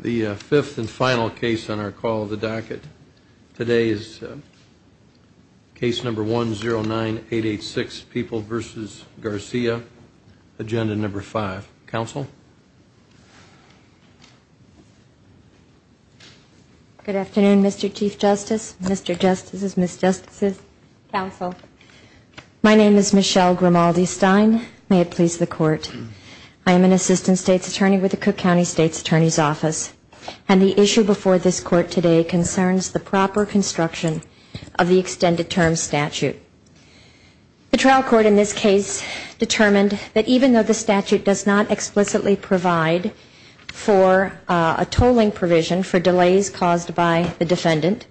The fifth and final case on our call of the docket today is case number 109-886, People v. Garcia, Agenda No. 5. Counsel? Good afternoon, Mr. Chief Justice, Mr. Justices, Ms. Justices, Counsel. My name is Michelle Grimaldi-Stein. May it please the Court. I am an Assistant State's Attorney with the Cook County State's Attorney's Office. And the issue before this Court today concerns the proper construction of the extended term statute. The trial court in this case determined that even though the statute does not explicitly provide for a tolling provision for delays caused by the defendant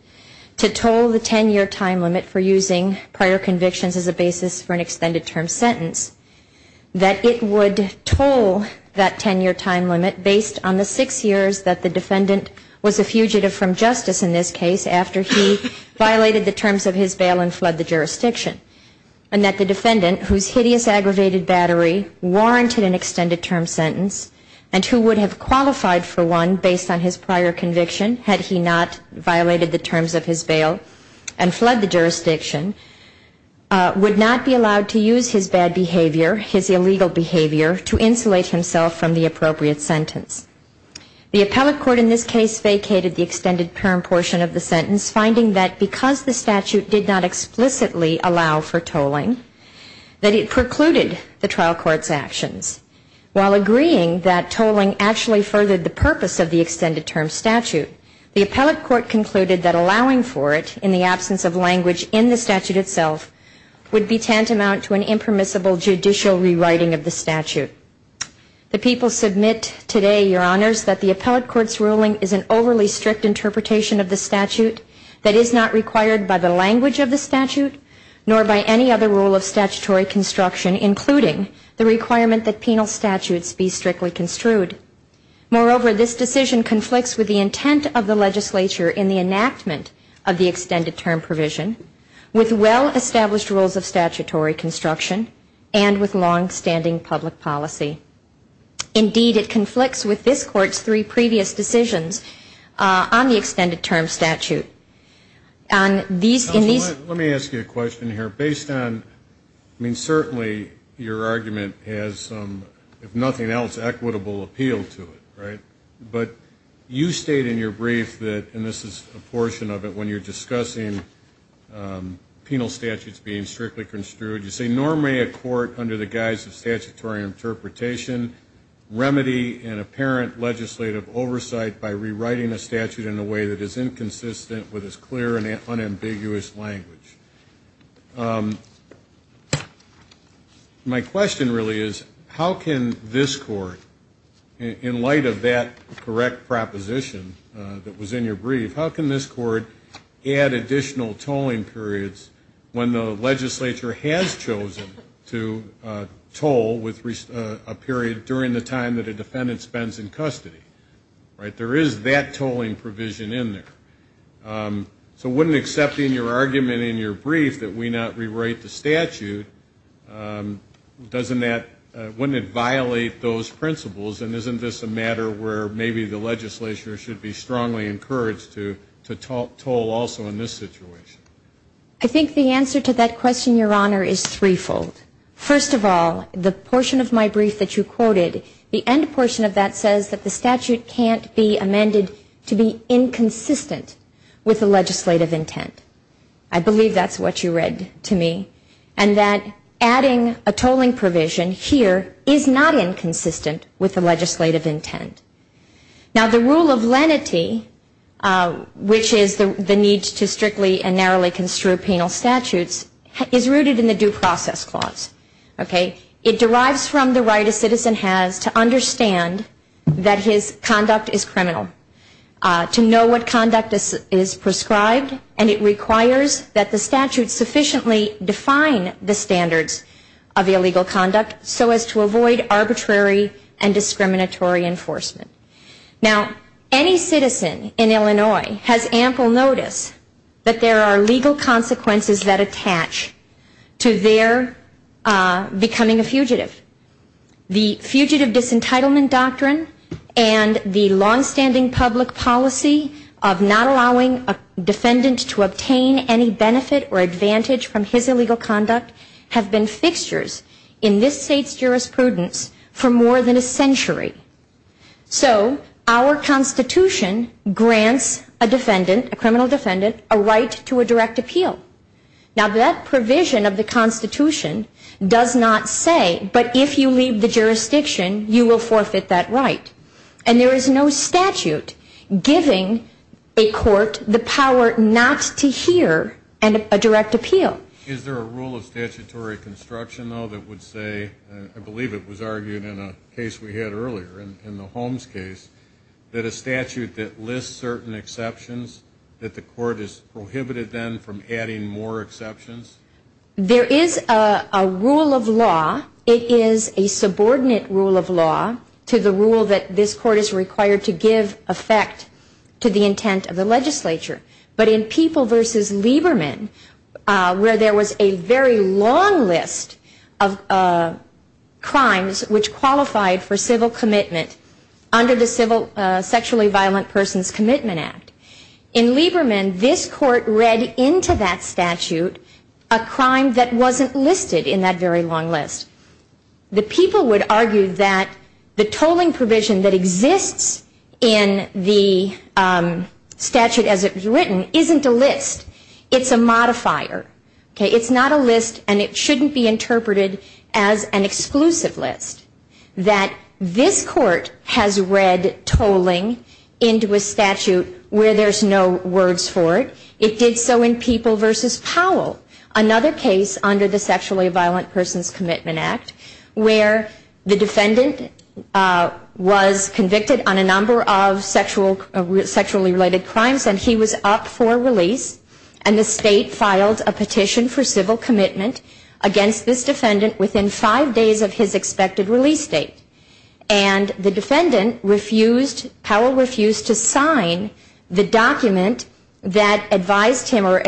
to toll the 10-year time limit for using prior convictions as a basis for an extended term sentence, that it would toll that 10-year time limit based on the six years that the defendant was a fugitive from justice in this case after he violated the terms of his bail and fled the jurisdiction. And that the defendant, whose hideous aggravated battery warranted an extended term sentence, and who would have qualified for one based on his prior conviction had he not violated the terms of his bail and fled the jurisdiction, would not be allowed to use his bad behavior, his illegal behavior, to insulate himself from the appropriate sentence. The appellate court in this case vacated the extended term portion of the sentence, finding that because the statute did not explicitly allow for tolling, that it precluded the trial court's actions. While agreeing that tolling actually furthered the purpose of the extended term statute, the appellate court concluded that allowing for it in the absence of language in the statute itself would be tantamount to an impermissible judicial rewriting of the statute. The people submit today, Your Honors, that the appellate court's ruling is an overly strict interpretation of the statute that is not required by the language of the statute nor by any other rule of statutory construction, including the requirement that penal statutes be strictly construed. Moreover, this decision conflicts with the intent of the legislature in the enactment of the extended term provision, with well-established rules of statutory construction, and with longstanding public policy. Indeed, it conflicts with this Court's three previous decisions on the extended term statute. On these ñ in these ñ Counsel, let me ask you a question here. Based on ñ I mean, certainly your argument has some, if nothing else, equitable appeal to it, right? But you state in your brief that ñ and this is a portion of it ñ when you're discussing penal statutes being strictly construed, you say, ìNor may a court, under the guise of statutory interpretation, remedy an apparent legislative oversight by rewriting a statute in a way that is inconsistent with its clear and unambiguous language.î My question really is, how can this Court, in light of that correct proposition that was in your brief, how can this Court add additional tolling periods when the legislature has chosen to toll with a period during the time that a defendant spends in custody, right? There is that tolling provision in there. So wouldnít accepting your argument in your brief that we not rewrite the statute, doesnít that ñ wouldnít it violate those principles, and isnít this a matter where maybe the legislature should be strongly encouraged to toll also in this situation? I think the answer to that question, Your Honor, is threefold. First of all, the portion of my brief that you quoted, the end portion of that says that the statute canít be amended to be inconsistent with the legislative intent. I believe thatís what you read to me, and that adding a tolling provision here is not inconsistent with the legislative intent. Now, the rule of lenity, which is the need to strictly and narrowly construe penal statutes, is rooted in the due process clause, okay? It derives from the right a citizen has to understand that his conduct is criminal, to know what conduct is prescribed, and it requires that the statute sufficiently define the standards of illegal conduct so as to avoid arbitrary and discriminatory enforcement. Now, any citizen in Illinois has ample notice that there are legal consequences to their becoming a fugitive. The fugitive disentitlement doctrine and the longstanding public policy of not allowing a defendant to obtain any benefit or advantage from his illegal conduct have been fixtures in this Stateís jurisprudence for more than a century. So our Constitution grants a defendant, a criminal defendant, a right to a direct appeal. Now, that provision of the Constitution does not say, ìBut if you leave the jurisdiction, you will forfeit that right.î And there is no statute giving a court the power not to hear a direct appeal. Is there a rule of statutory construction, though, that would sayó I believe it was argued in a case we had earlier, in the Holmes caseó that a statute that lists certain exceptions, that the court is prohibited then from adding more exceptions? There is a rule of lawóit is a subordinate rule of lawó to the rule that this court is required to give effect to the intent of the legislature. But in People v. Lieberman, where there was a very long list of crimes which qualified for civil commitment under the Sexually Violent Persons Commitment Act, in Lieberman, this court read into that statute a crime that wasnít listed in that very long list. The people would argue that the tolling provision that exists in the statute as it was written isnít a list. Itís a modifier. Itís not a list, and it shouldnít be interpreted as an exclusive list. This court has read tolling into a statute where thereís no words for it. It did so in People v. Powell, another case under the Sexually Violent Persons Commitment Act, where the defendant was convicted on a number of sexually related crimes, and he was up for release, and the state filed a petition for civil commitment against this defendant within five days of his expected release date. And the defendant refusedóPowell refusedóto sign the document that advised him, or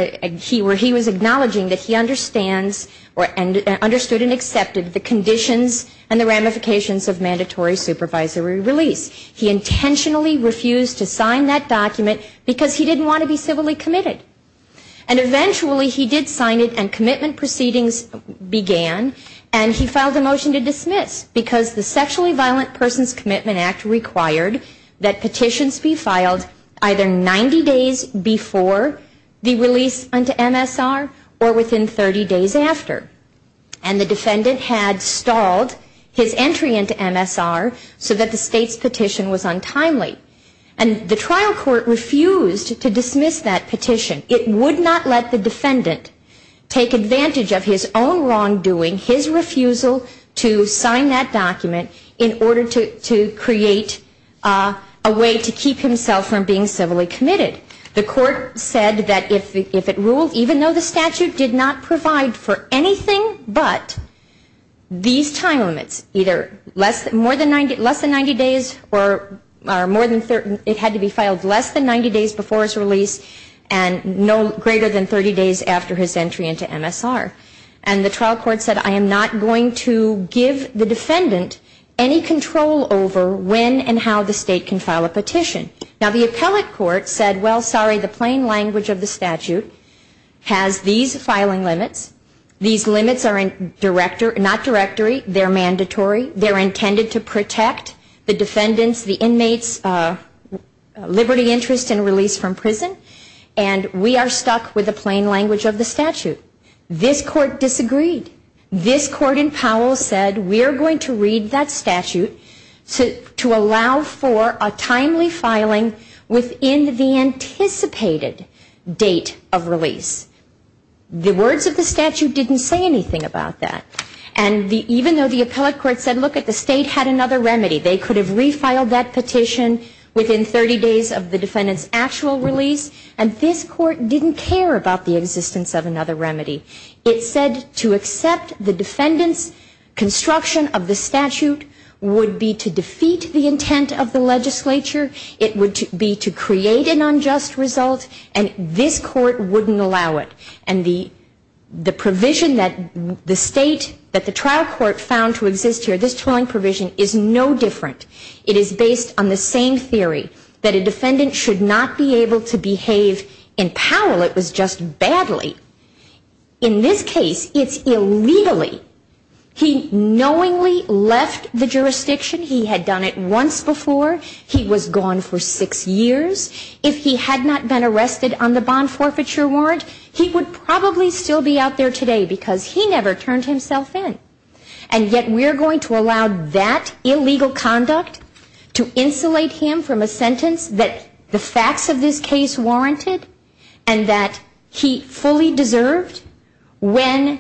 he was acknowledging that he understands and understood and accepted the conditions and the ramifications of mandatory supervisory release. He intentionally refused to sign that document because he didnít want to be civilly committed. And eventually he did sign it, and commitment proceedings began, and he filed a motion to dismiss because the Sexually Violent Persons Commitment Act required that petitions be filed either 90 days before the release into MSR or within 30 days after. And the defendant had stalled his entry into MSR so that the stateís petition was untimely. And the trial court refused to dismiss that petition. It would not let the defendant take advantage of his own wrongdoing, his refusal to sign that document, in order to create a way to keep himself from being civilly committed. The court said that if it ruled, even though the statute did not provide for anything but these time limits, either less than 90 days or more thanóit had to be filed less than 90 days before his release and no greater than 30 days after his entry into MSR. And the trial court said, ìI am not going to give the defendant any control over when and how the state can file a petition.î Now, the appellate court said, ìWell, sorry, the plain language of the statute has these filing limits. These limits are not directory. Theyíre mandatory. Theyíre intended to protect the defendantís, the inmateís liberty, interest, and release from prison. And we are stuck with the plain language of the statute.î This court disagreed. This court in Powell said, ìWeíre going to read that statute to allow for a timely filing within the anticipated date of release.î The words of the statute didnít say anything about that. And even though the appellate court said, ìLook, the state had another remedy. They could have refiled that petition within 30 days of the defendantís actual release.î And this court didnít care about the existence of another remedy. It said to accept the defendantís construction of the statute would be to defeat the intent of the legislature. It would be to create an unjust result. And this court wouldnít allow it. And the provision that the state, that the trial court found to exist here, this toiling provision, is no different. It is based on the same theory, that a defendant should not be able to behave in Powell. It was just badly. In this case, itís illegally. He knowingly left the jurisdiction. He had done it once before. He was gone for six years. If he had not been arrested on the bond forfeiture warrant, he would probably still be out there today because he never turned himself in. And yet weíre going to allow that illegal conduct to insulate him from a sentence that the facts of this case warranted and that he fully deserved when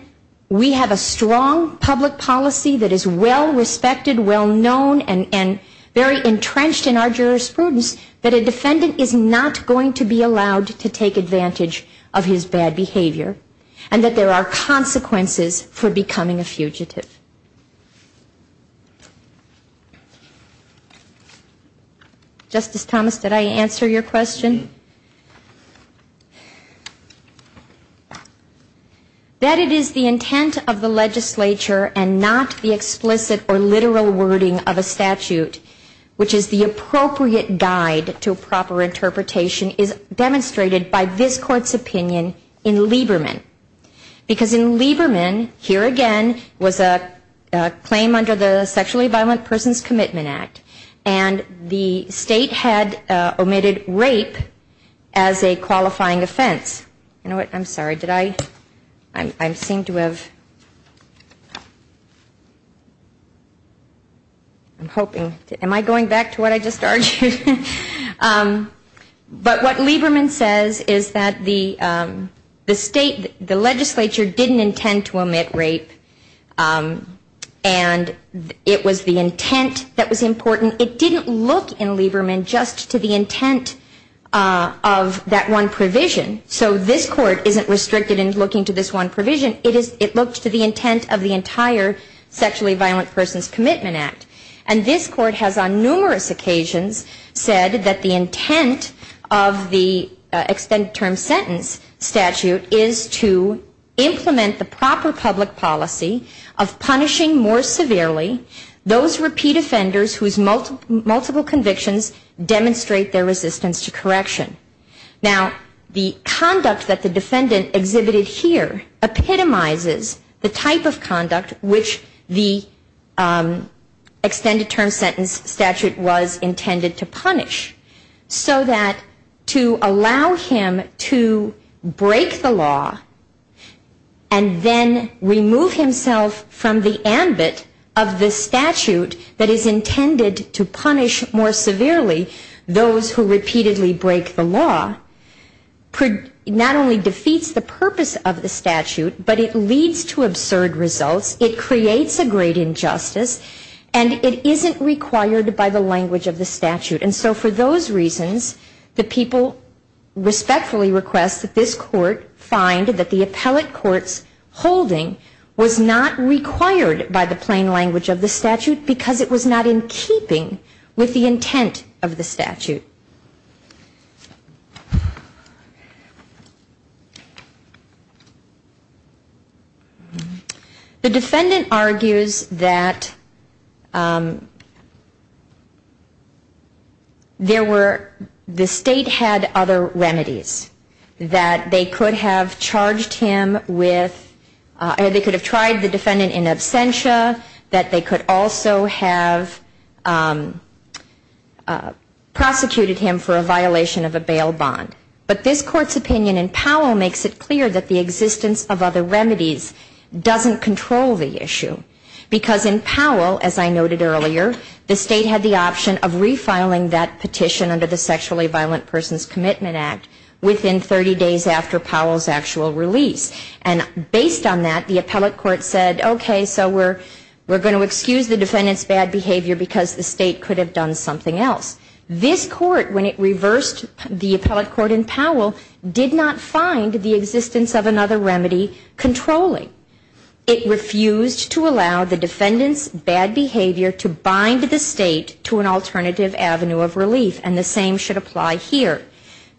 we have a strong public policy that is well-respected, well-known, and very entrenched in our jurisprudence, that a defendant is not going to be allowed to take advantage of his bad behavior and that there are consequences for becoming a fugitive. Justice Thomas, did I answer your question? That it is the intent of the legislature and not the explicit or literal wording of a statute, which is the appropriate guide to proper interpretation, is demonstrated by this Courtís opinion in Lieberman. Because in Lieberman, here again, was a claim under the Sexually Violent Persons Commitment Act, and the state had omitted rape as a qualifying offense. You know what, Iím sorry, did I, I seem to have, Iím hoping, am I going back to what I just argued? But what Lieberman says is that the state, the legislature didnít intend to omit rape and it was the intent that was important. It didnít look in Lieberman just to the intent of that one provision. So this Court isnít restricted in looking to this one provision. It looked to the intent of the entire Sexually Violent Persons Commitment Act. And this Court has on numerous occasions said that the intent of the extended term sentence statute is to implement the proper public policy of punishing more severely those repeat offenders whose multiple convictions demonstrate their resistance to correction. Now, the conduct that the defendant exhibited here epitomizes the type of conduct which the extended term sentence statute was intended to punish. So that to allow him to break the law and then remove himself from the ambit of the statute that is intended to punish more severely those who repeatedly break the law, not only defeats the purpose of the statute, but it leads to absurd results. It creates a great injustice and it isnít required by the language of the statute. And so for those reasons, the people respectfully request that this Court find that the appellate courtís holding was not required by the plain language of the statute because it was not in keeping with the intent of the statute. The defendant argues that there were, the state had other remedies, that they could have charged him with, or they could have tried the defendant in absentia, that they could also have prosecuted him in absentia. They could have prosecuted him for a violation of a bail bond. But this Courtís opinion in Powell makes it clear that the existence of other remedies doesnít control the issue. Because in Powell, as I noted earlier, the state had the option of refiling that petition under the Sexually Violent Persons Commitment Act within 30 days after Powellís actual release. And based on that, the appellate court said, okay, so weíre going to excuse the defendantís bad behavior because the state could have done something else. This Court, when it reversed the appellate court in Powell, did not find the existence of another remedy controlling. It refused to allow the defendantís bad behavior to bind the state to an alternative avenue of relief. And the same should apply here,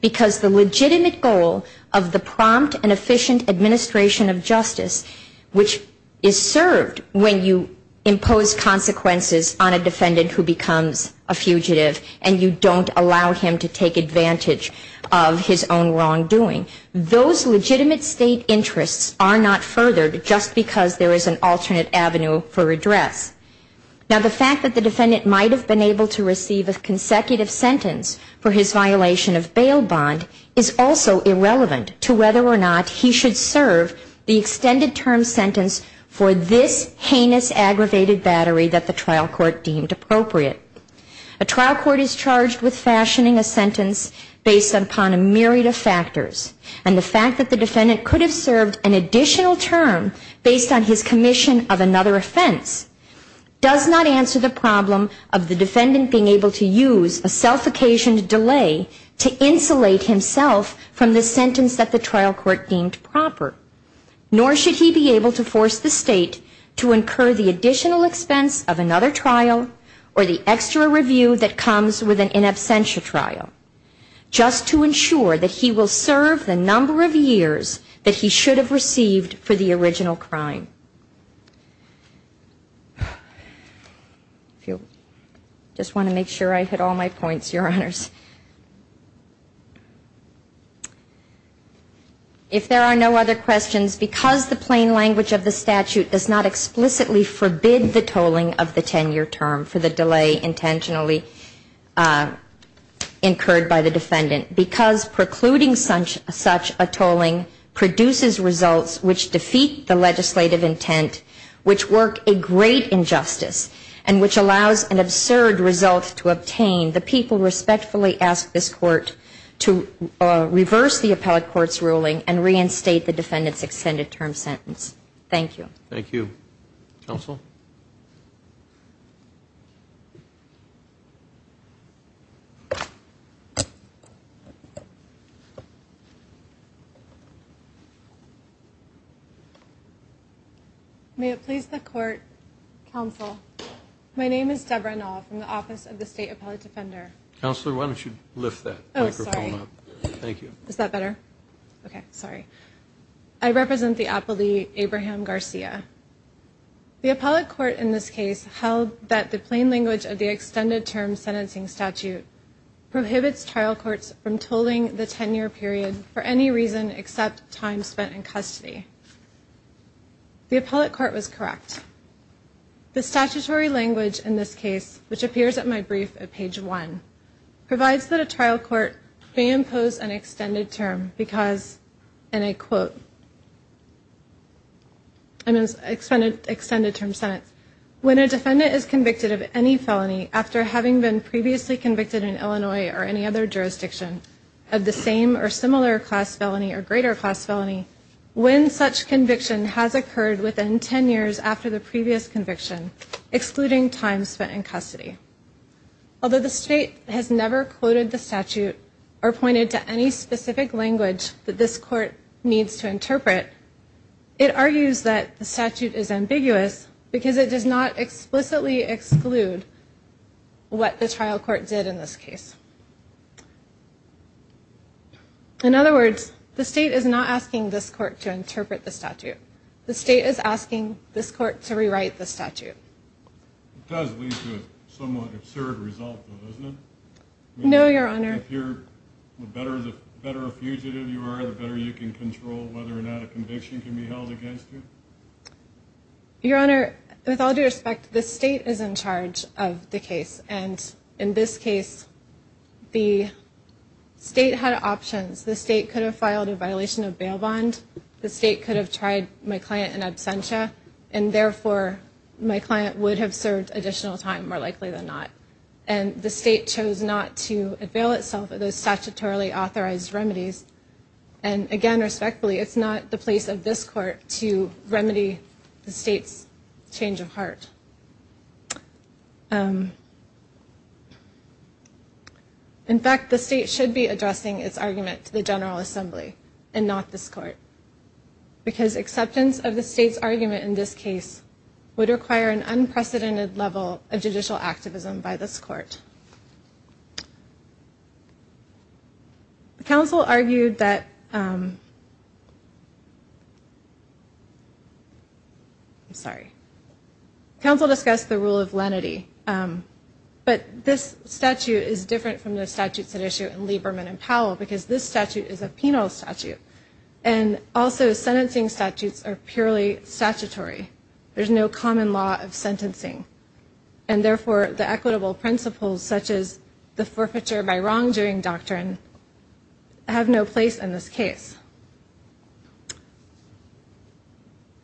because the legitimate goal of the prompt and efficient administration of justice, which is served when you impose consequences on a defendant who becomes a fugitive, and you donít allow him to take advantage of his own wrongdoing, those legitimate state interests are not furthered just because there is an alternate avenue for redress. Now, the fact that the defendant might have been able to receive a consecutive sentence for his violation of bail bond is also irrelevant to whether or not he should serve the extended term sentence for this heinous, aggravated battery that the trial court deemed appropriate. A trial court is charged with fashioning a sentence based upon a myriad of factors. And the fact that the defendant could have served an additional term based on his commission of another offense does not answer the problem of the defendant being able to use a self-occasioned delay to insulate himself from the sentence that the trial court deemed proper. Nor should he be able to force the state to incur the additional expense of another trial or the extra review that comes with an in absentia trial just to ensure that he will serve the number of years that he should have received for the original crime. I just want to make sure I hit all my points, Your Honors. If there are no other questions, because the plain language of the statute does not explicitly forbid the tolling of the 10-year term, for the delay intentionally incurred by the defendant, because precluding such a tolling produces results which defeat the legislative intent, which work a great injustice and which allows an absurd result to obtain, the people respectfully ask this court to reverse the appellate court's ruling and reinstate the defendant's extended term sentence. Thank you. Thank you, Counsel. May it please the Court, Counsel, my name is Debra Nall from the Office of the State Appellate Defender. Counselor, why don't you lift that microphone up. Oh, sorry. Is that better? Okay, sorry. I represent the appellee, Abraham Garcia. The appellate court in this case held that the plain language of the extended term sentencing statute prohibits trial courts from tolling the 10-year period for any reason except time spent in custody. The appellate court was correct. The statutory language in this case, which appears at my brief at page one, provides that a trial court may impose an extended term because, and I quote, extended term sentence, when a defendant is convicted of any felony, after having been previously convicted in Illinois or any other jurisdiction, of the same or similar class felony or greater class felony, when such conviction has occurred within 10 years after the previous conviction, excluding time spent in custody. Although the state has never quoted the statute or pointed to any specific language that this court needs to interpret, it argues that the statute is ambiguous because it does not explicitly exclude what the trial court did in this case. In other words, the state is not asking this court to interpret the statute. The state is asking this court to rewrite the statute. It does lead to a somewhat absurd result, though, doesn't it? No, Your Honor. The better a fugitive you are, the better you can control whether or not a conviction can be held against you? Your Honor, with all due respect, the state is in charge of the case, and in this case the state had options. The state could have filed a violation of bail bond. The state could have tried my client in absentia, and therefore my client would have served additional time, more likely than not. And the state chose not to avail itself of those statutorily authorized remedies. And again, respectfully, it's not the place of this court to remedy the state's change of heart. In fact, the state should be addressing its argument to the General Assembly and not this court, because acceptance of the state's argument in this case would require an unprecedented level of judicial activism by this court. I'm sorry. Counsel discussed the rule of lenity, but this statute is different from the statutes at issue in Lieberman and Powell, because this statute is a penal statute, and also sentencing statutes are purely statutory. There's no common law of sentencing, and therefore the equitable principles, such as the forfeiture by wrongdoing doctrine, have no place in this case.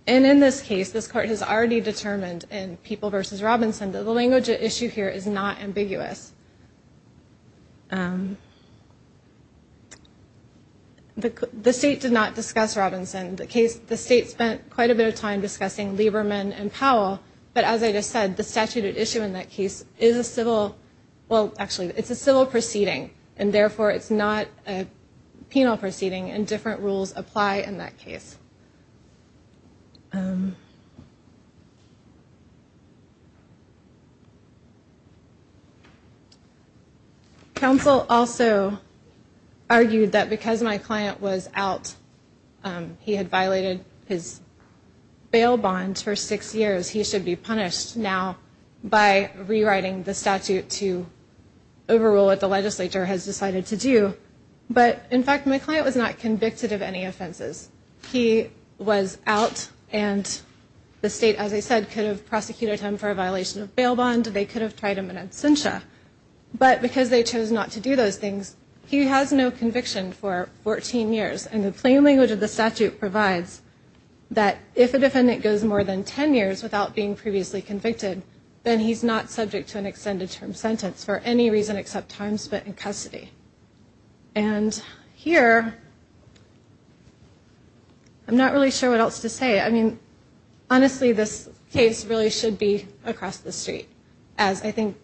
And in this case, this court has already determined in People v. Robinson that the language at issue here is not ambiguous. The state did not discuss Robinson. The state spent quite a bit of time discussing Lieberman and Powell, but as I just said, the statute at issue in that case is a civil – well, actually, it's a civil proceeding, and therefore it's not a penal proceeding, and different rules apply in that case. Counsel also argued that because my client was out, he had violated his bail bond for six years, he should be punished now by rewriting the statute to overrule what the legislature has decided to do. But, in fact, my client was not convicted of any offenses. He was out, and the state, as I said, could have prosecuted him for a violation of bail bond. They could have tried him in absentia. But because they chose not to do those things, he has no conviction for 14 years, and the plain language of the statute provides that if a defendant goes more than 10 years without being previously convicted, then he's not subject to an extended term sentence for any reason except time spent in custody. And here, I'm not really sure what else to say. I mean, honestly, this case really should be across the street, as I think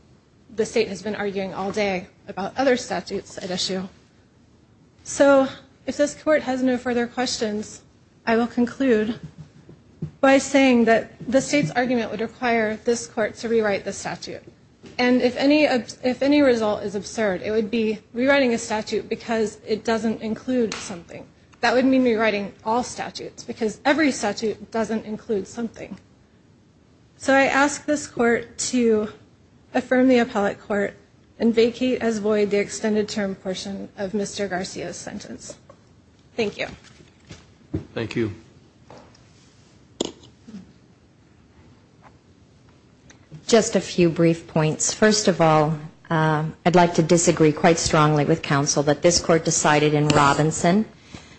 the state has been arguing all day about other statutes at issue. So if this court has no further questions, I will conclude by saying that the state's argument would require this court to rewrite the statute. And if any result is absurd, it would be rewriting a statute because it doesn't include something. That would mean rewriting all statutes because every statute doesn't include something. So I ask this court to affirm the appellate court and vacate as void the extended term portion of Mr. Garcia's sentence. Thank you. Thank you. Just a few brief points. First of all, I'd like to disagree quite strongly with counsel that this court decided in Robinson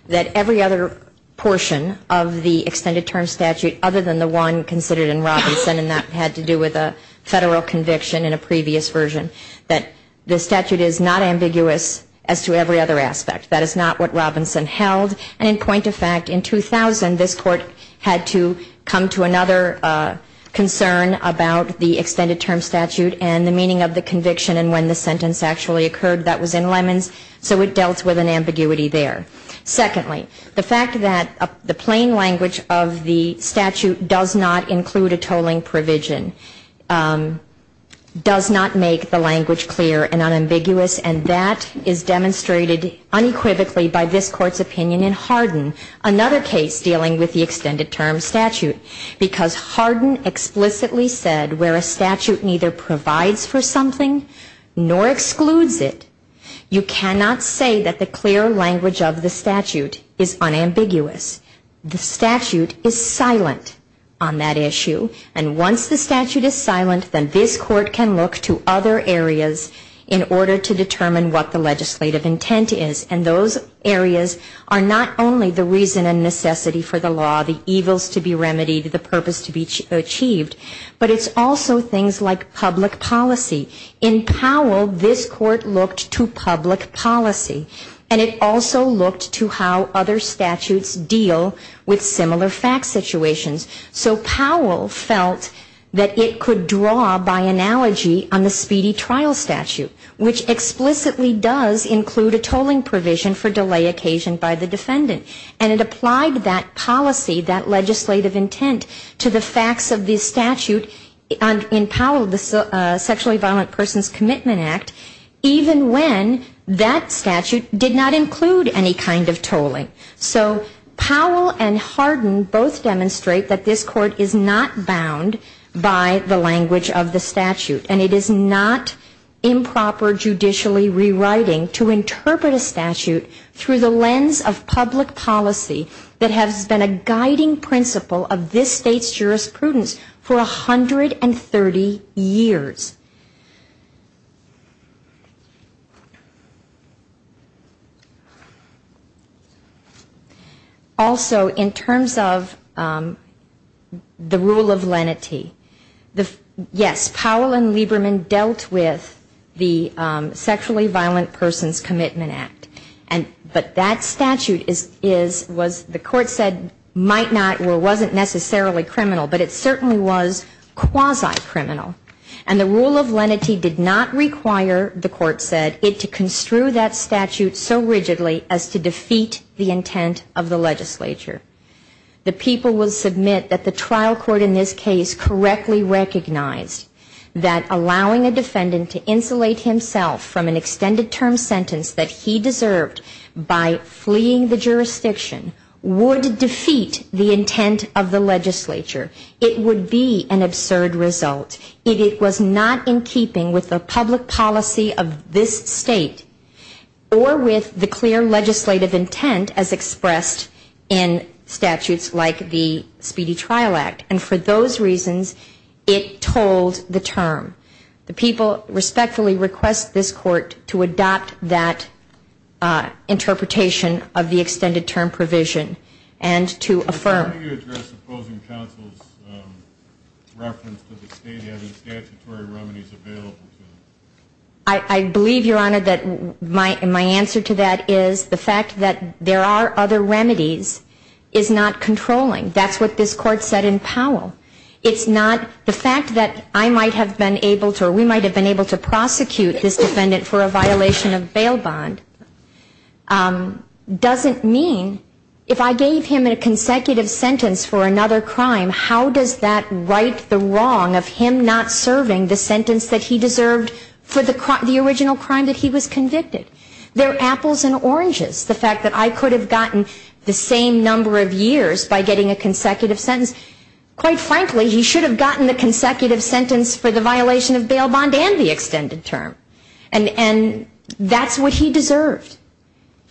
that every other portion of the extended term statute other than the one considered in Robinson, and that had to do with a federal conviction in a previous version, that the statute is not ambiguous as to every other aspect. That is not what Robinson held. And in point of fact, in 2000, this court had to come to another concern about the extended term statute and the meaning of the conviction and when the sentence actually occurred. That was in Lemons, so it dealt with an ambiguity there. Secondly, the fact that the plain language of the statute does not include a tolling provision does not make the language clear and unambiguous, and that is demonstrated unequivocally by this court's opinion in Hardin, another case dealing with the extended term statute. Because Hardin explicitly said where a statute neither provides for something nor excludes it, you cannot say that the clear language of the statute is unambiguous. The statute is silent on that issue, and once the statute is silent, then this court can look to other areas in order to determine what the legislative intent is, and those areas are not only the reason and necessity for the law, the evils to be remedied, the purpose to be achieved, but it's also things like public policy. In Powell, this court looked to public policy, and it also looked to how other statutes deal with similar fact situations. So Powell felt that it could draw by analogy on the speedy trial statute, which explicitly does include a tolling provision for delay occasioned by the defendant, and it applied that policy, that legislative intent, to the facts of the statute in Powell, the Sexually Violent Persons Commitment Act, even when that statute did not include any kind of tolling. So Powell and Hardin both demonstrate that this court is not bound by the language of the statute, and it is not improper judicially rewriting to interpret a statute through the lens of public policy that has been a guiding principle of this state's jurisprudence for 130 years. Also, in terms of the rule of lenity, yes, Powell and Hardin, and Lieberman dealt with the Sexually Violent Persons Commitment Act, but that statute was, the court said, might not or wasn't necessarily criminal, but it certainly was quasi-criminal, and the rule of lenity did not require, the court said, it to construe that statute so rigidly as to defeat the intent of the legislature. The people will submit that the trial court in this case correctly recognized that allowing a defendant to insulate himself from an extended term sentence that he deserved by fleeing the jurisdiction would defeat the intent of the legislature. It would be an absurd result if it was not in keeping with the public policy of this state or with the clear legislative intent as expressed in statutes like the Speedy Trial Act, and for those reasons it told the term. The people respectfully request this court to adopt that interpretation of the extended term provision and to affirm. I believe, Your Honor, that my answer to that is the fact that there are other remedies is not controlling. That's what this court said in Powell. It's not the fact that I might have been able to or we might have been able to prosecute this defendant for a violation of bail bond doesn't mean if I gave him a consecutive sentence for another crime, how does that right the wrong of him not serving the sentence that he deserved for the original crime that he was convicted? There are apples and oranges, the fact that I could have gotten the same number of years by getting a consecutive sentence. Quite frankly, he should have gotten the consecutive sentence for the violation of bail bond and the extended term. And that's what he deserved.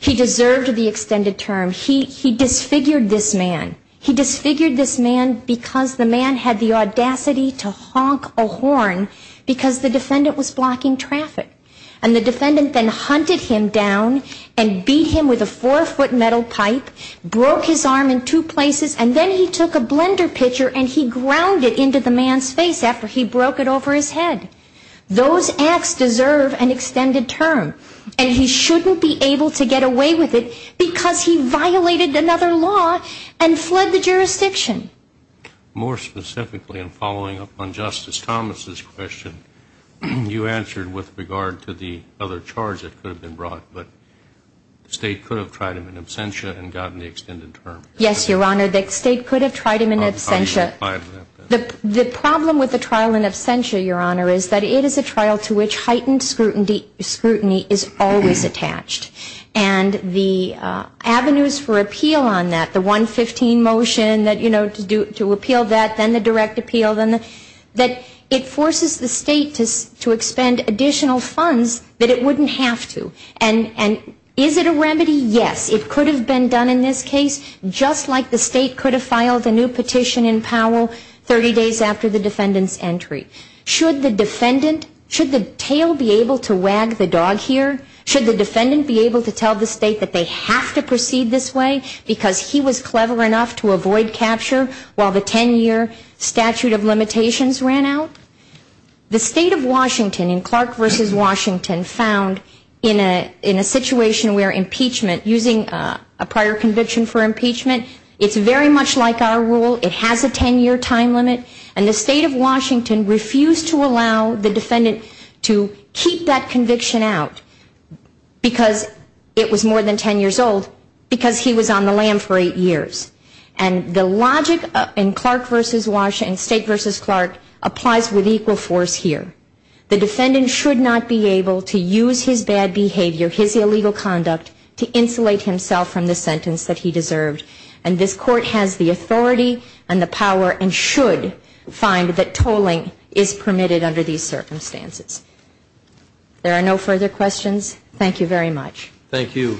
He deserved the extended term. He disfigured this man. He disfigured this man because the man had the audacity to honk a horn because the defendant was blocking traffic. And the defendant then hunted him down and beat him with a four-foot metal pipe, broke his arm in two places, and then he took a blender pitcher and he ground it into the man's face after he broke it over his head. Those acts deserve an extended term, and he shouldn't be able to get away with it because he violated another law and fled the jurisdiction. More specifically, in following up on Justice Thomas's question, you answered with regard to the other charge that could have been brought, but the state could have tried him in absentia and gotten the extended term. Yes, Your Honor, the state could have tried him in absentia. The problem with the trial in absentia, Your Honor, is that it is a trial to which heightened scrutiny is always attached. And the avenues for appeal on that, the 115 motion to appeal that, then the direct appeal, that it forces the state to expend additional funds that it wouldn't have to. And is it a remedy? Yes, it could have been done in this case, just like the state could have filed a new petition in Powell 30 days after the defendant's entry. Should the defendant, should the tail be able to wag the dog here? Should the defendant be able to tell the state that they have to proceed this way because he was clever enough to avoid capture while the 10-year statute of limitations ran out? The state of Washington in Clark v. Washington found in a situation where impeachment, using a prior conviction for impeachment, it's very much like our rule. It has a 10-year time limit. And the state of Washington refused to allow the defendant to keep that conviction out because it was more than 10 years old because he was on the lam for eight years. And the logic in Clark v. Washington, state v. Clark, applies with equal force here. The defendant should not be able to use his bad behavior, his illegal conduct, to insulate himself from the sentence that he deserved. And this Court has the authority and the power and should find that tolling is permitted under these circumstances. There are no further questions. Thank you very much. Thank you.